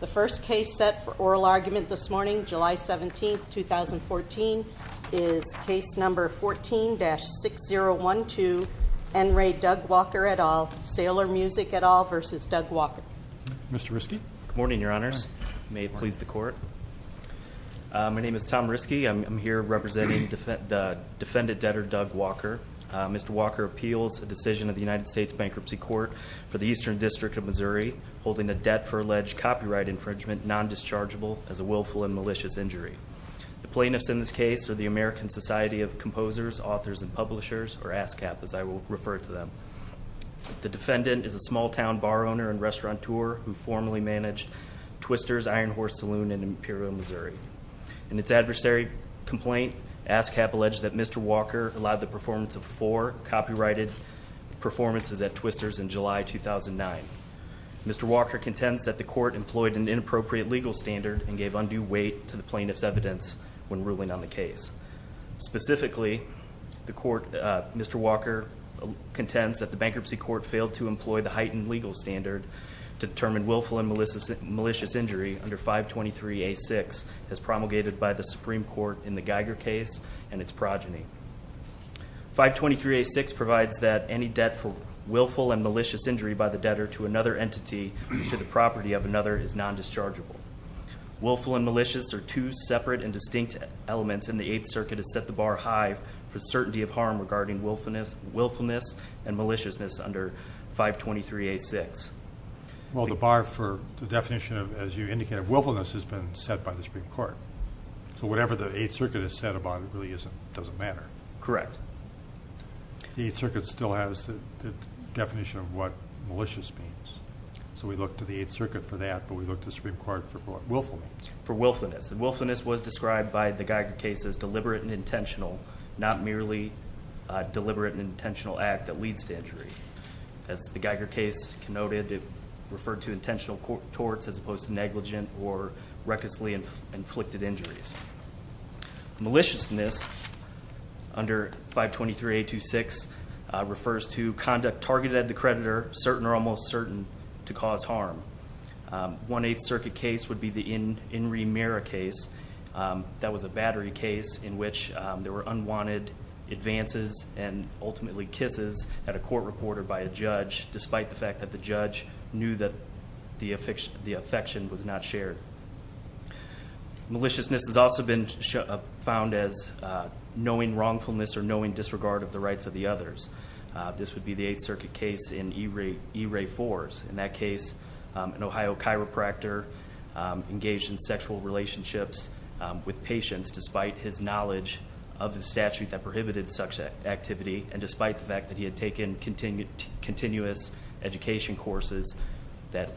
The first case set for oral argument this morning, July 17, 2014, is Case No. 14-6012, N. Ray Doug Walker et al., Sailor Music et al. v. Doug Walker. Mr. Riske. Good morning, Your Honors. May it please the Court. My name is Tom Riske. I'm here representing the defendant debtor, Doug Walker. Mr. Walker appeals a decision of the United States Bankruptcy Court for the Eastern District of Missouri holding a debt for alleged copyright infringement non-dischargeable as a willful and malicious injury. The plaintiffs in this case are the American Society of Composers, Authors, and Publishers, or ASCAP as I will refer to them. The defendant is a small-town bar owner and restaurateur who formerly managed Twister's Iron Horse Saloon in Imperial, Missouri. In its adversary complaint, ASCAP alleged that Mr. Walker allowed the performance of four copyrighted performances at Twister's in July 2009. Mr. Walker contends that the Court employed an inappropriate legal standard and gave undue weight to the plaintiff's evidence when ruling on the case. Specifically, Mr. Walker contends that the Bankruptcy Court failed to employ the heightened legal standard to determine willful and malicious injury under 523A6 as promulgated by the Supreme Court in the Geiger case and its progeny. 523A6 provides that any debt for willful and malicious injury by the debtor to another entity to the property of another is non-dischargeable. Willful and malicious are two separate and distinct elements, and the Eighth Circuit has set the bar high for certainty of harm regarding willfulness and maliciousness under 523A6. Well, the bar for the definition, as you indicated, of willfulness has been set by the Supreme Court. So whatever the Eighth Circuit has said about it really doesn't matter. Correct. The Eighth Circuit still has the definition of what malicious means. So we look to the Eighth Circuit for that, but we look to the Supreme Court for what willfulness means. For willfulness. And willfulness was described by the Geiger case as deliberate and intentional, not merely deliberate and intentional act that leads to injury. As the Geiger case noted, it referred to intentional torts as opposed to negligent or recklessly inflicted injuries. Maliciousness under 523A26 refers to conduct targeted at the creditor, certain or almost certain, to cause harm. One Eighth Circuit case would be the Inri Mira case. That was a battery case in which there were unwanted advances and ultimately kisses at a court reporter by a judge, despite the fact that the judge knew that the affection was not shared. Maliciousness has also been found as knowing wrongfulness or knowing disregard of the rights of the others. This would be the Eighth Circuit case in E-Ray Fours. In that case, an Ohio chiropractor engaged in sexual relationships with patients, despite his knowledge of the statute that prohibited such activity. And despite the fact that he had taken continuous education courses that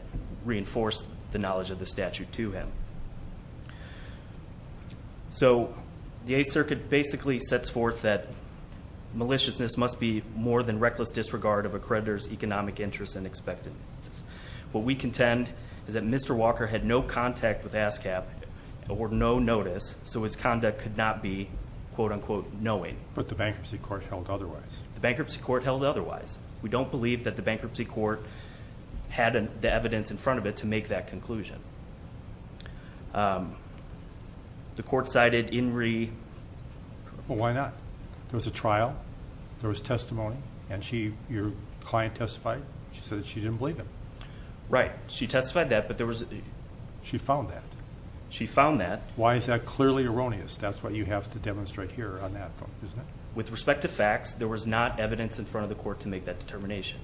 reinforced the knowledge of the statute to him. So the Eighth Circuit basically sets forth that maliciousness must be more than reckless disregard of a creditor's economic interests and expectations. What we contend is that Mr. Walker had no contact with ASCAP or no notice, so his conduct could not be quote unquote knowing. But the bankruptcy court held otherwise. The bankruptcy court held otherwise. We don't believe that the bankruptcy court had the evidence in front of it to make that conclusion. The court cited Inree. Well, why not? There was a trial. There was testimony. And your client testified? She said that she didn't believe him. Right. She testified that, but there was. She found that. She found that. Why is that clearly erroneous? That's what you have to demonstrate here on that one, isn't it? With respect to facts, there was not evidence in front of the court to make that determination.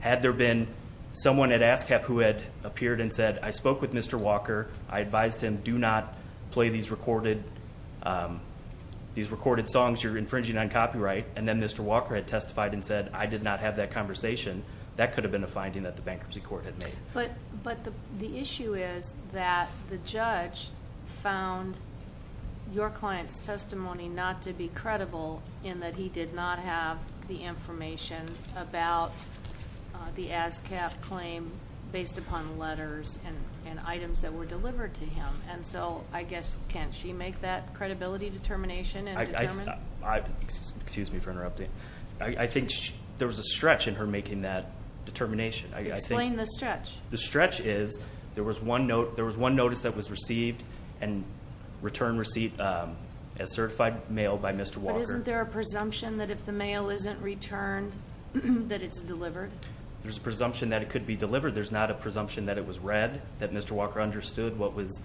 Had there been someone at ASCAP who had appeared and said, I spoke with Mr. Walker. I advised him, do not play these recorded songs you're infringing on copyright. And then Mr. Walker had testified and said, I did not have that conversation. That could have been a finding that the bankruptcy court had made. But the issue is that the judge found your client's testimony not to be credible in that he did not have the information about the ASCAP claim based upon letters and items that were delivered to him. And so, I guess, can't she make that credibility determination and determine? Excuse me for interrupting. I think there was a stretch in her making that determination. Explain the stretch. The stretch is there was one notice that was received and return receipt as certified mail by Mr. Walker. But isn't there a presumption that if the mail isn't returned, that it's delivered? There's a presumption that it could be delivered. There's not a presumption that it was read, that Mr. Walker understood what was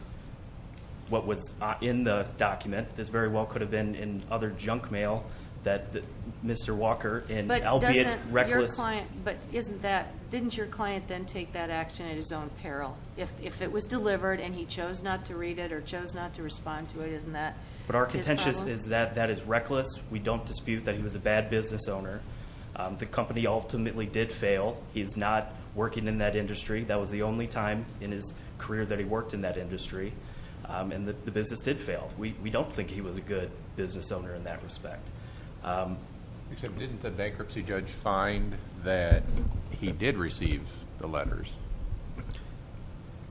in the document. This very well could have been in other junk mail that Mr. Walker, albeit reckless. But didn't your client then take that action at his own peril? If it was delivered and he chose not to read it or chose not to respond to it, isn't that his problem? But our contention is that that is reckless. We don't dispute that he was a bad business owner. The company ultimately did fail. He's not working in that industry. That was the only time in his career that he worked in that industry. And the business did fail. We don't think he was a good business owner in that respect. Except didn't the bankruptcy judge find that he did receive the letters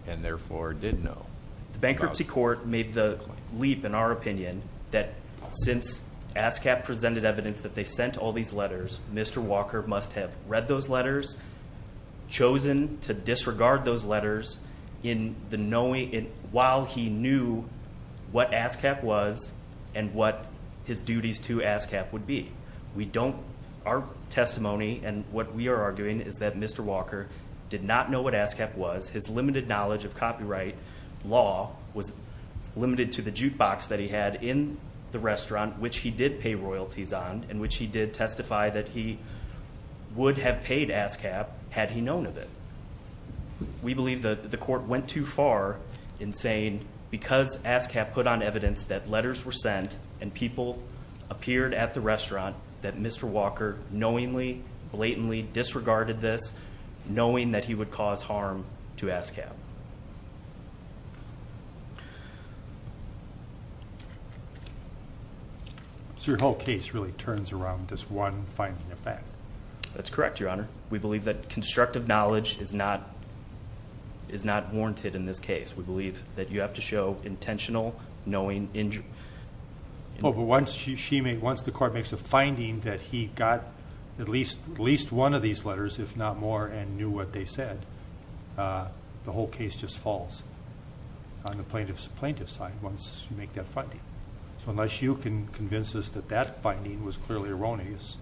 and therefore did know? The bankruptcy court made the leap, in our opinion, that since ASCAP presented evidence that they sent all these letters, Mr. Walker must have read those letters, chosen to disregard those letters while he knew what ASCAP was and what his duties to ASCAP would be. We don't, our testimony and what we are arguing is that Mr. Walker did not know what ASCAP was. His limited knowledge of copyright law was limited to the jukebox that he had in the restaurant, which he did pay royalties on and which he did testify that he would have paid ASCAP had he known of it. We believe that the court went too far in saying because ASCAP put on evidence that letters were sent and people appeared at the restaurant, that Mr. Walker knowingly, blatantly disregarded this, knowing that he would cause harm to ASCAP. So your whole case really turns around this one finding of fact. That's correct, Your Honor. We believe that constructive knowledge is not warranted in this case. We believe that you have to show intentional knowing injury. Oh, but once the court makes a finding that he got at least one of these letters, if not more, and knew what they said, the whole case just falls on the plaintiff's side once you make that finding. So unless you can convince us that that finding was clearly erroneous,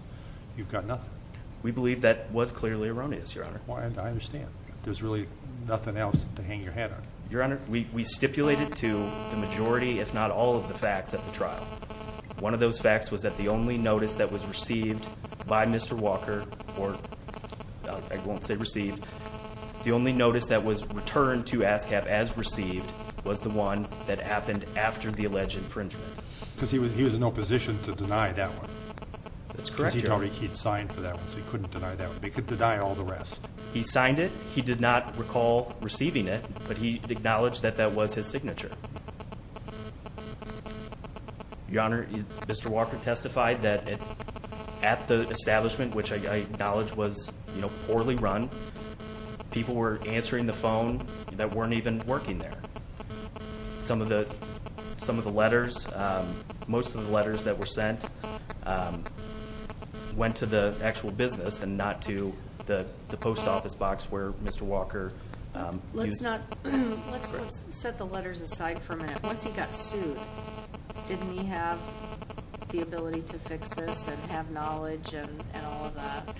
you've got nothing. We believe that was clearly erroneous, Your Honor. I understand. There's really nothing else to hang your head on. Your Honor, we stipulated to the majority, if not all, of the facts at the trial. One of those facts was that the only notice that was received by Mr. Walker, or I won't say received, the only notice that was returned to ASCAP as received was the one that happened after the alleged infringement. Because he was in no position to deny that one. That's correct, Your Honor. Because he'd already signed for that one, so he couldn't deny that one. He could deny all the rest. He signed it. He did not recall receiving it, but he acknowledged that that was his signature. Your Honor, Mr. Walker testified that at the establishment, which I acknowledge was poorly run, people were answering the phone that weren't even working there. Some of the letters, most of the letters that were sent, went to the actual business and not to the post office box where Mr. Walker... Let's set the letters aside for a minute. Once he got sued, didn't he have the ability to fix this and have knowledge and all of that?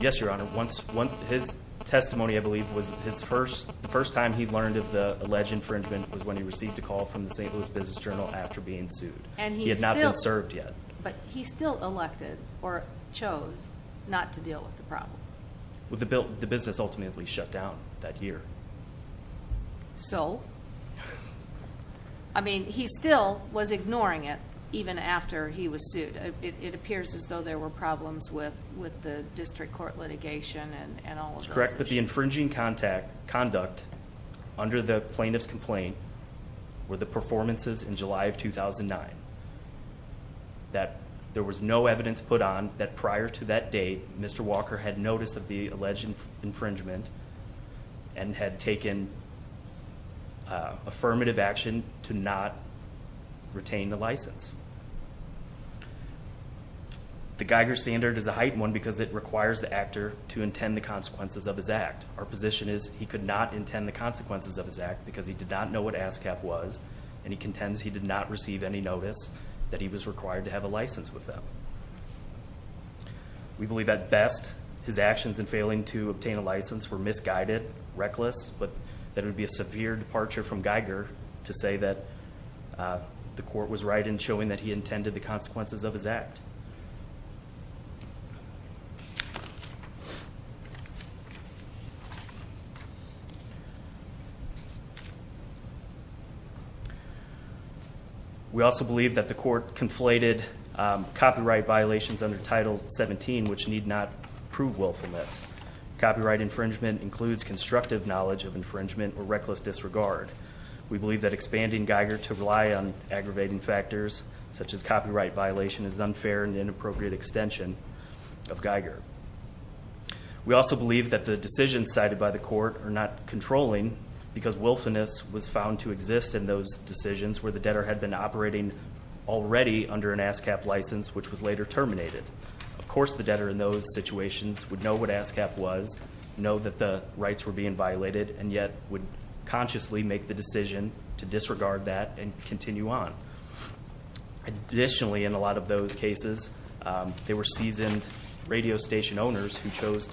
Yes, Your Honor. His testimony, I believe, was the first time he learned of the alleged infringement was when he received a call from the St. Louis Business Journal after being sued. He had not been served yet. But he still elected or chose not to deal with the problem. The business ultimately shut down that year. So? I mean, he still was ignoring it even after he was sued. It appears as though there were problems with the district court litigation and all of those issues. It's correct that the infringing conduct under the plaintiff's complaint were the performances in July of 2009. There was no evidence put on that prior to that date, Mr. Walker had notice of the alleged infringement and had taken affirmative action to not retain the license. The Geiger standard is a heightened one because it requires the actor to intend the consequences of his act. Our position is he could not intend the consequences of his act because he did not know what ASCAP was and he contends he did not receive any notice that he was required to have a license with them. We believe at best his actions in failing to obtain a license were misguided, reckless, but that it would be a severe departure from Geiger to say that the court was right in showing that he intended the consequences of his act. We also believe that the court conflated copyright violations under Title 17, which need not prove willfulness. Copyright infringement includes constructive knowledge of infringement or reckless disregard. We believe that expanding Geiger to rely on aggravating factors, such as copyright violation, is an unfair and inappropriate extension of Geiger. We also believe that the decisions cited by the court are not controlling because willfulness was found to exist in those decisions where the debtor had been operating already under an ASCAP license, which was later terminated. Of course, the debtor in those situations would know what ASCAP was, know that the rights were being violated, and yet would consciously make the decision to disregard that and continue on. Additionally, in a lot of those cases, there were seasoned radio station owners who chose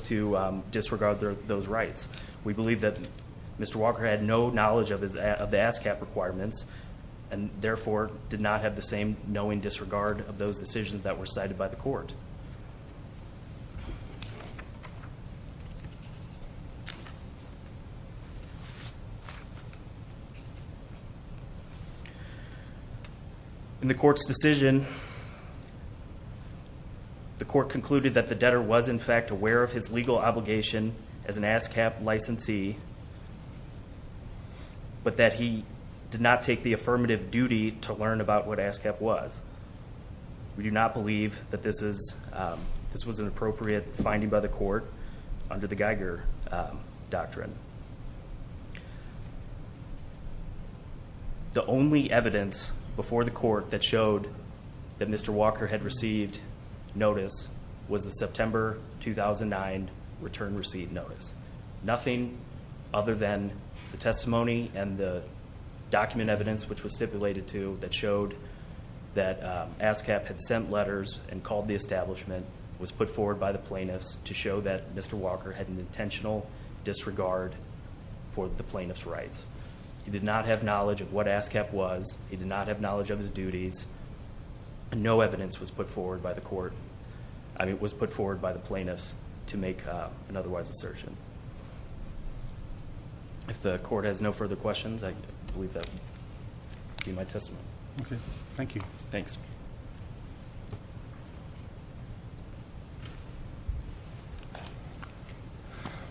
to disregard those rights. We believe that Mr. Walker had no knowledge of the ASCAP requirements, and therefore did not have the same knowing disregard of those decisions that were cited by the court. In the court's decision, the court concluded that the debtor was in fact aware of his legal obligation as an ASCAP licensee, but that he did not take the affirmative duty to learn about what ASCAP was. We do not believe that this was an appropriate finding by the court. It was found under the Geiger Doctrine. The only evidence before the court that showed that Mr. Walker had received notice was the September 2009 return receipt notice. Nothing other than the testimony and the document evidence, which was stipulated to, that showed that ASCAP had sent letters and called the establishment, was put forward by the plaintiffs to show that Mr. Walker had an intentional disregard for the plaintiffs' rights. He did not have knowledge of what ASCAP was. He did not have knowledge of his duties. No evidence was put forward by the plaintiffs to make an otherwise assertion. If the court has no further questions, I believe that would be my testimony. Thank you.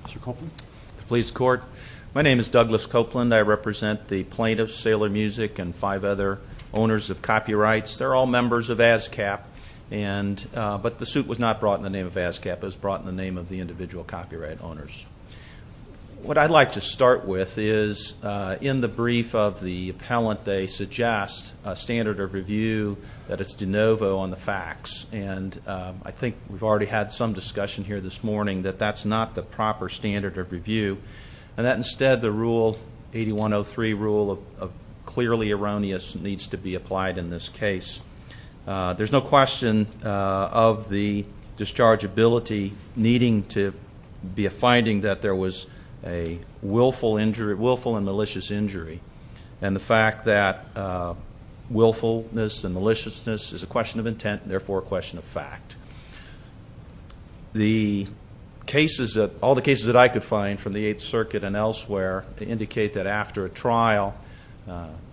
Mr. Copeland. My name is Douglas Copeland. I represent the plaintiffs, Sailor Music, and five other owners of copyrights. They're all members of ASCAP, but the suit was not brought in the name of ASCAP. It was brought in the name of the individual copyright owners. What I'd like to start with is, in the brief of the appellant, they suggest a standard of review that is de novo on the facts. And I think we've already had some discussion here this morning that that's not the proper standard of review, and that instead the Rule 8103 rule of clearly erroneous needs to be applied in this case. There's no question of the dischargeability needing to be a finding that there was a willful and malicious injury, and the fact that willfulness and maliciousness is a question of intent and therefore a question of fact. All the cases that I could find from the Eighth Circuit and elsewhere indicate that after a trial,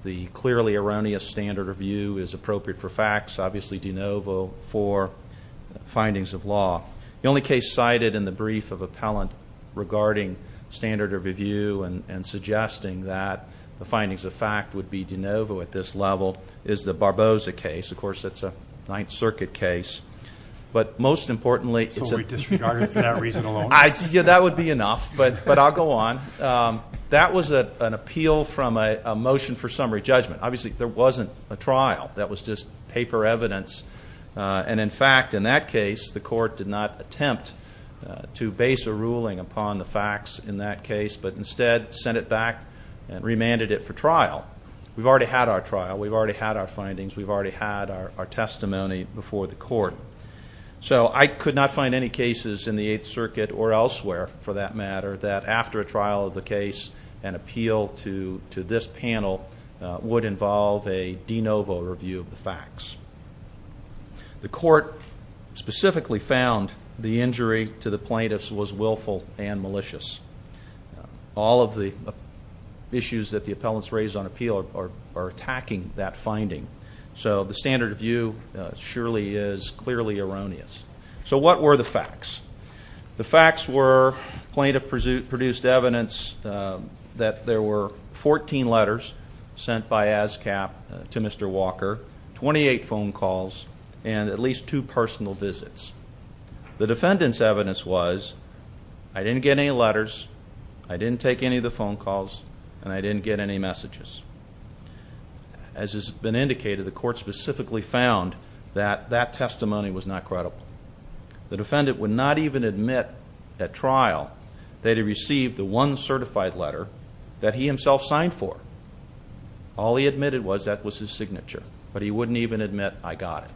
the clearly erroneous standard of review is appropriate for facts, obviously de novo for findings of law. The only case cited in the brief of appellant regarding standard of review and suggesting that the findings of fact would be de novo at this level is the Barboza case. Of course, that's a Ninth Circuit case. But most importantly, that would be enough, but I'll go on. That was an appeal from a motion for summary judgment. Obviously, there wasn't a trial. That was just paper evidence. And in fact, in that case, the Court did not attempt to base a ruling upon the facts in that case, but instead sent it back and remanded it for trial. We've already had our trial. We've already had our findings. We've already had our testimony before the Court. So I could not find any cases in the Eighth Circuit or elsewhere, for that matter, that after a trial of the case, an appeal to this panel would involve a de novo review of the facts. The Court specifically found the injury to the plaintiffs was willful and malicious. All of the issues that the appellants raised on appeal are attacking that finding. So the standard of view surely is clearly erroneous. So what were the facts? The facts were plaintiff produced evidence that there were 14 letters sent by ASCAP to Mr. Walker, 28 phone calls, and at least two personal visits. The defendant's evidence was I didn't get any letters, I didn't take any of the phone calls, and I didn't get any messages. As has been indicated, the Court specifically found that that testimony was not credible. The defendant would not even admit at trial that he received the one certified letter that he himself signed for. All he admitted was that was his signature, but he wouldn't even admit I got it.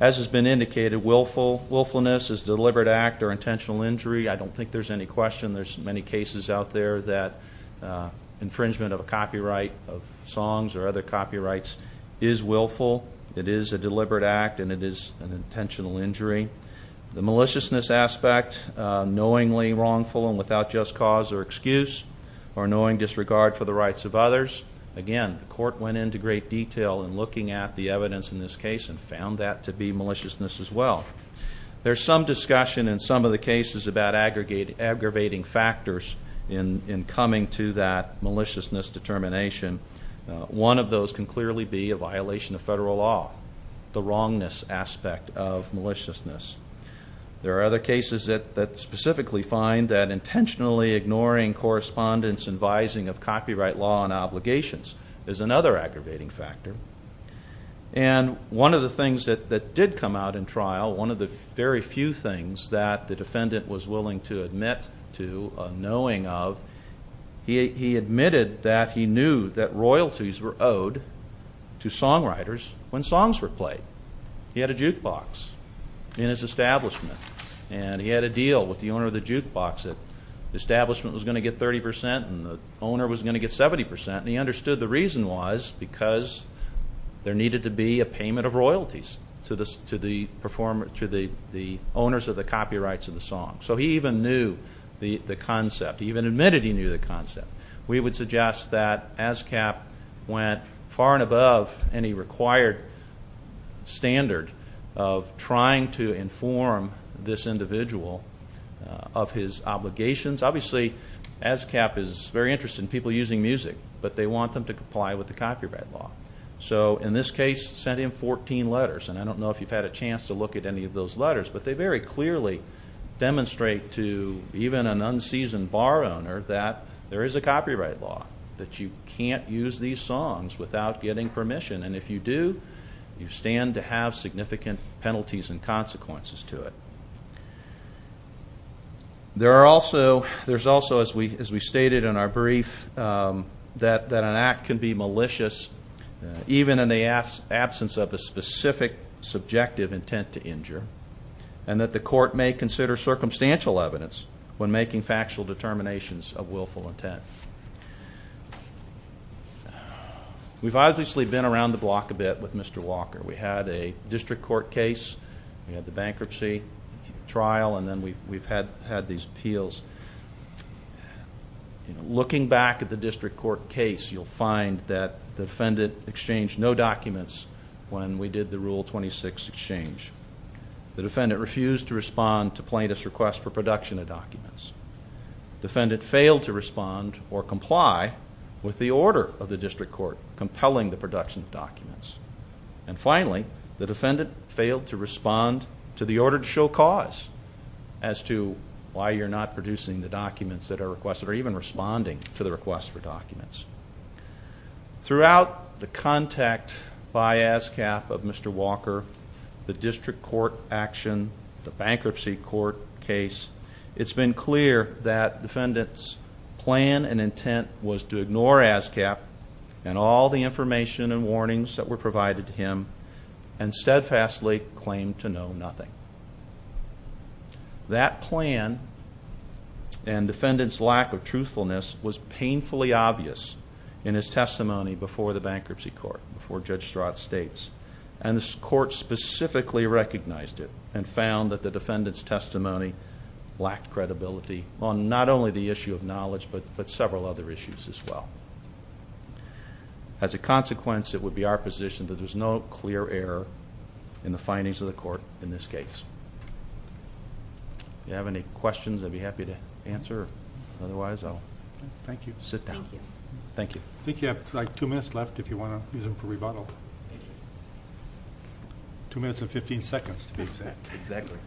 As has been indicated, willfulness is a deliberate act or intentional injury. I don't think there's any question there's many cases out there that infringement of a copyright of songs or other copyrights is willful. It is a deliberate act and it is an intentional injury. The maliciousness aspect, knowingly wrongful and without just cause or excuse, or knowing disregard for the rights of others. Again, the Court went into great detail in looking at the evidence in this case and found that to be maliciousness as well. There's some discussion in some of the cases about aggravating factors in coming to that maliciousness determination. One of those can clearly be a violation of federal law, the wrongness aspect of maliciousness. There are other cases that specifically find that intentionally ignoring correspondence advising of copyright law and obligations is another aggravating factor. And one of the things that did come out in trial, one of the very few things that the defendant was willing to admit to, knowing of, he admitted that he knew that royalties were owed to songwriters when songs were played. He had a jukebox in his establishment and he had a deal with the owner of the jukebox that the establishment was going to get 30 percent and the owner was going to get 70 percent. And he understood the reason was because there needed to be a payment of royalties to the owners of the copyrights of the song. So he even knew the concept. He even admitted he knew the concept. We would suggest that ASCAP went far and above any required standard of trying to inform this individual of his obligations. Obviously ASCAP is very interested in people using music, but they want them to comply with the copyright law. So in this case, sent him 14 letters, and I don't know if you've had a chance to look at any of those letters, but they very clearly demonstrate to even an unseasoned bar owner that there is a copyright law, that you can't use these songs without getting permission. And if you do, you stand to have significant penalties and consequences to it. There's also, as we stated in our brief, that an act can be malicious, even in the absence of a specific subjective intent to injure, and that the court may consider circumstantial evidence when making factual determinations of willful intent. We've obviously been around the block a bit with Mr. Walker. We had a district court case, we had the bankruptcy trial, and then we've had these appeals. Looking back at the district court case, you'll find that the defendant exchanged no documents when we did the Rule 26 exchange. The defendant refused to respond to plaintiff's request for production of documents. Defendant failed to respond or comply with the order of the district court compelling the production of documents. And finally, the defendant failed to respond to the order to show cause as to why you're not producing the documents that are requested or even responding to the request for documents. Throughout the contact by ASCAP of Mr. Walker, the district court action, the bankruptcy court case, it's been clear that defendant's plan and intent was to ignore ASCAP and all the information and warnings that were provided to him and steadfastly claimed to know nothing. That plan and defendant's lack of truthfulness was painfully obvious in his testimony before the bankruptcy court, before Judge Strott's states. And the court specifically recognized it and found that the defendant's testimony lacked credibility on not only the issue of knowledge but several other issues as well. As a consequence, it would be our position that there's no clear error in the findings of the court in this case. If you have any questions, I'd be happy to answer. Otherwise, I'll sit down. Thank you. I think you have like two minutes left if you want to use them for rebuttal. Two minutes and 15 seconds to be exact. Exactly.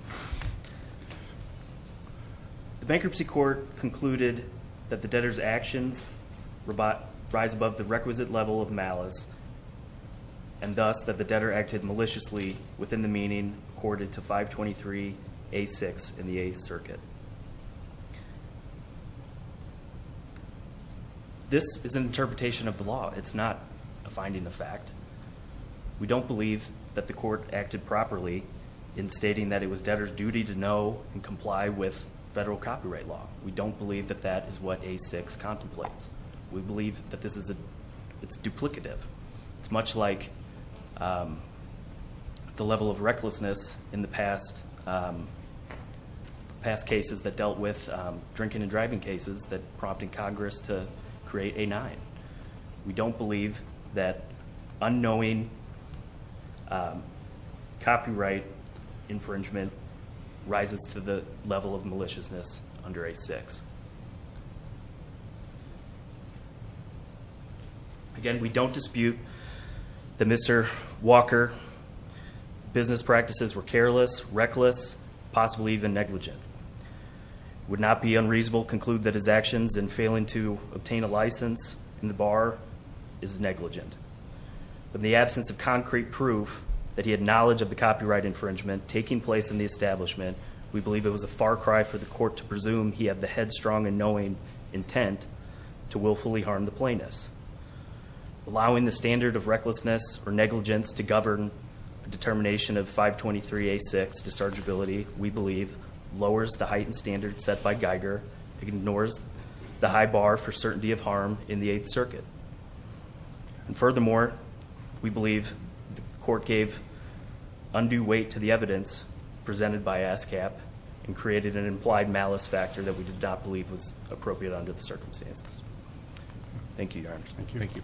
The bankruptcy court concluded that the debtor's actions rise above the requisite level of malice and thus that the debtor acted maliciously within the meaning accorded to 523A6 in the Eighth Circuit. This is an interpretation of the law. It's not a finding of fact. We don't believe that the court acted properly in stating that it was debtor's duty to know and comply with federal copyright law. We don't believe that that is what A6 contemplates. We believe that it's duplicative. It's much like the level of recklessness in the past cases that dealt with drinking and driving cases that prompted Congress to create A9. We don't believe that unknowing copyright infringement rises to the level of maliciousness under A6. Again, we don't dispute that Mr. Walker's business practices were careless, reckless, possibly even negligent. It would not be unreasonable to conclude that his actions in failing to obtain a license in the bar is negligent. In the absence of concrete proof that he had knowledge of the copyright infringement taking place in the establishment, we believe it was a far cry for the court to presume he had the headstrong and knowing intent to willfully harm the plaintiffs. Allowing the standard of recklessness or negligence to govern a determination of 523A6 dischargeability, we believe, lowers the heightened standards set by Geiger. It ignores the high bar for certainty of harm in the Eighth Circuit. And furthermore, we believe the court gave undue weight to the evidence presented by ASCAP and created an implied malice factor that we did not believe was appropriate under the circumstances. Thank you, Your Honor.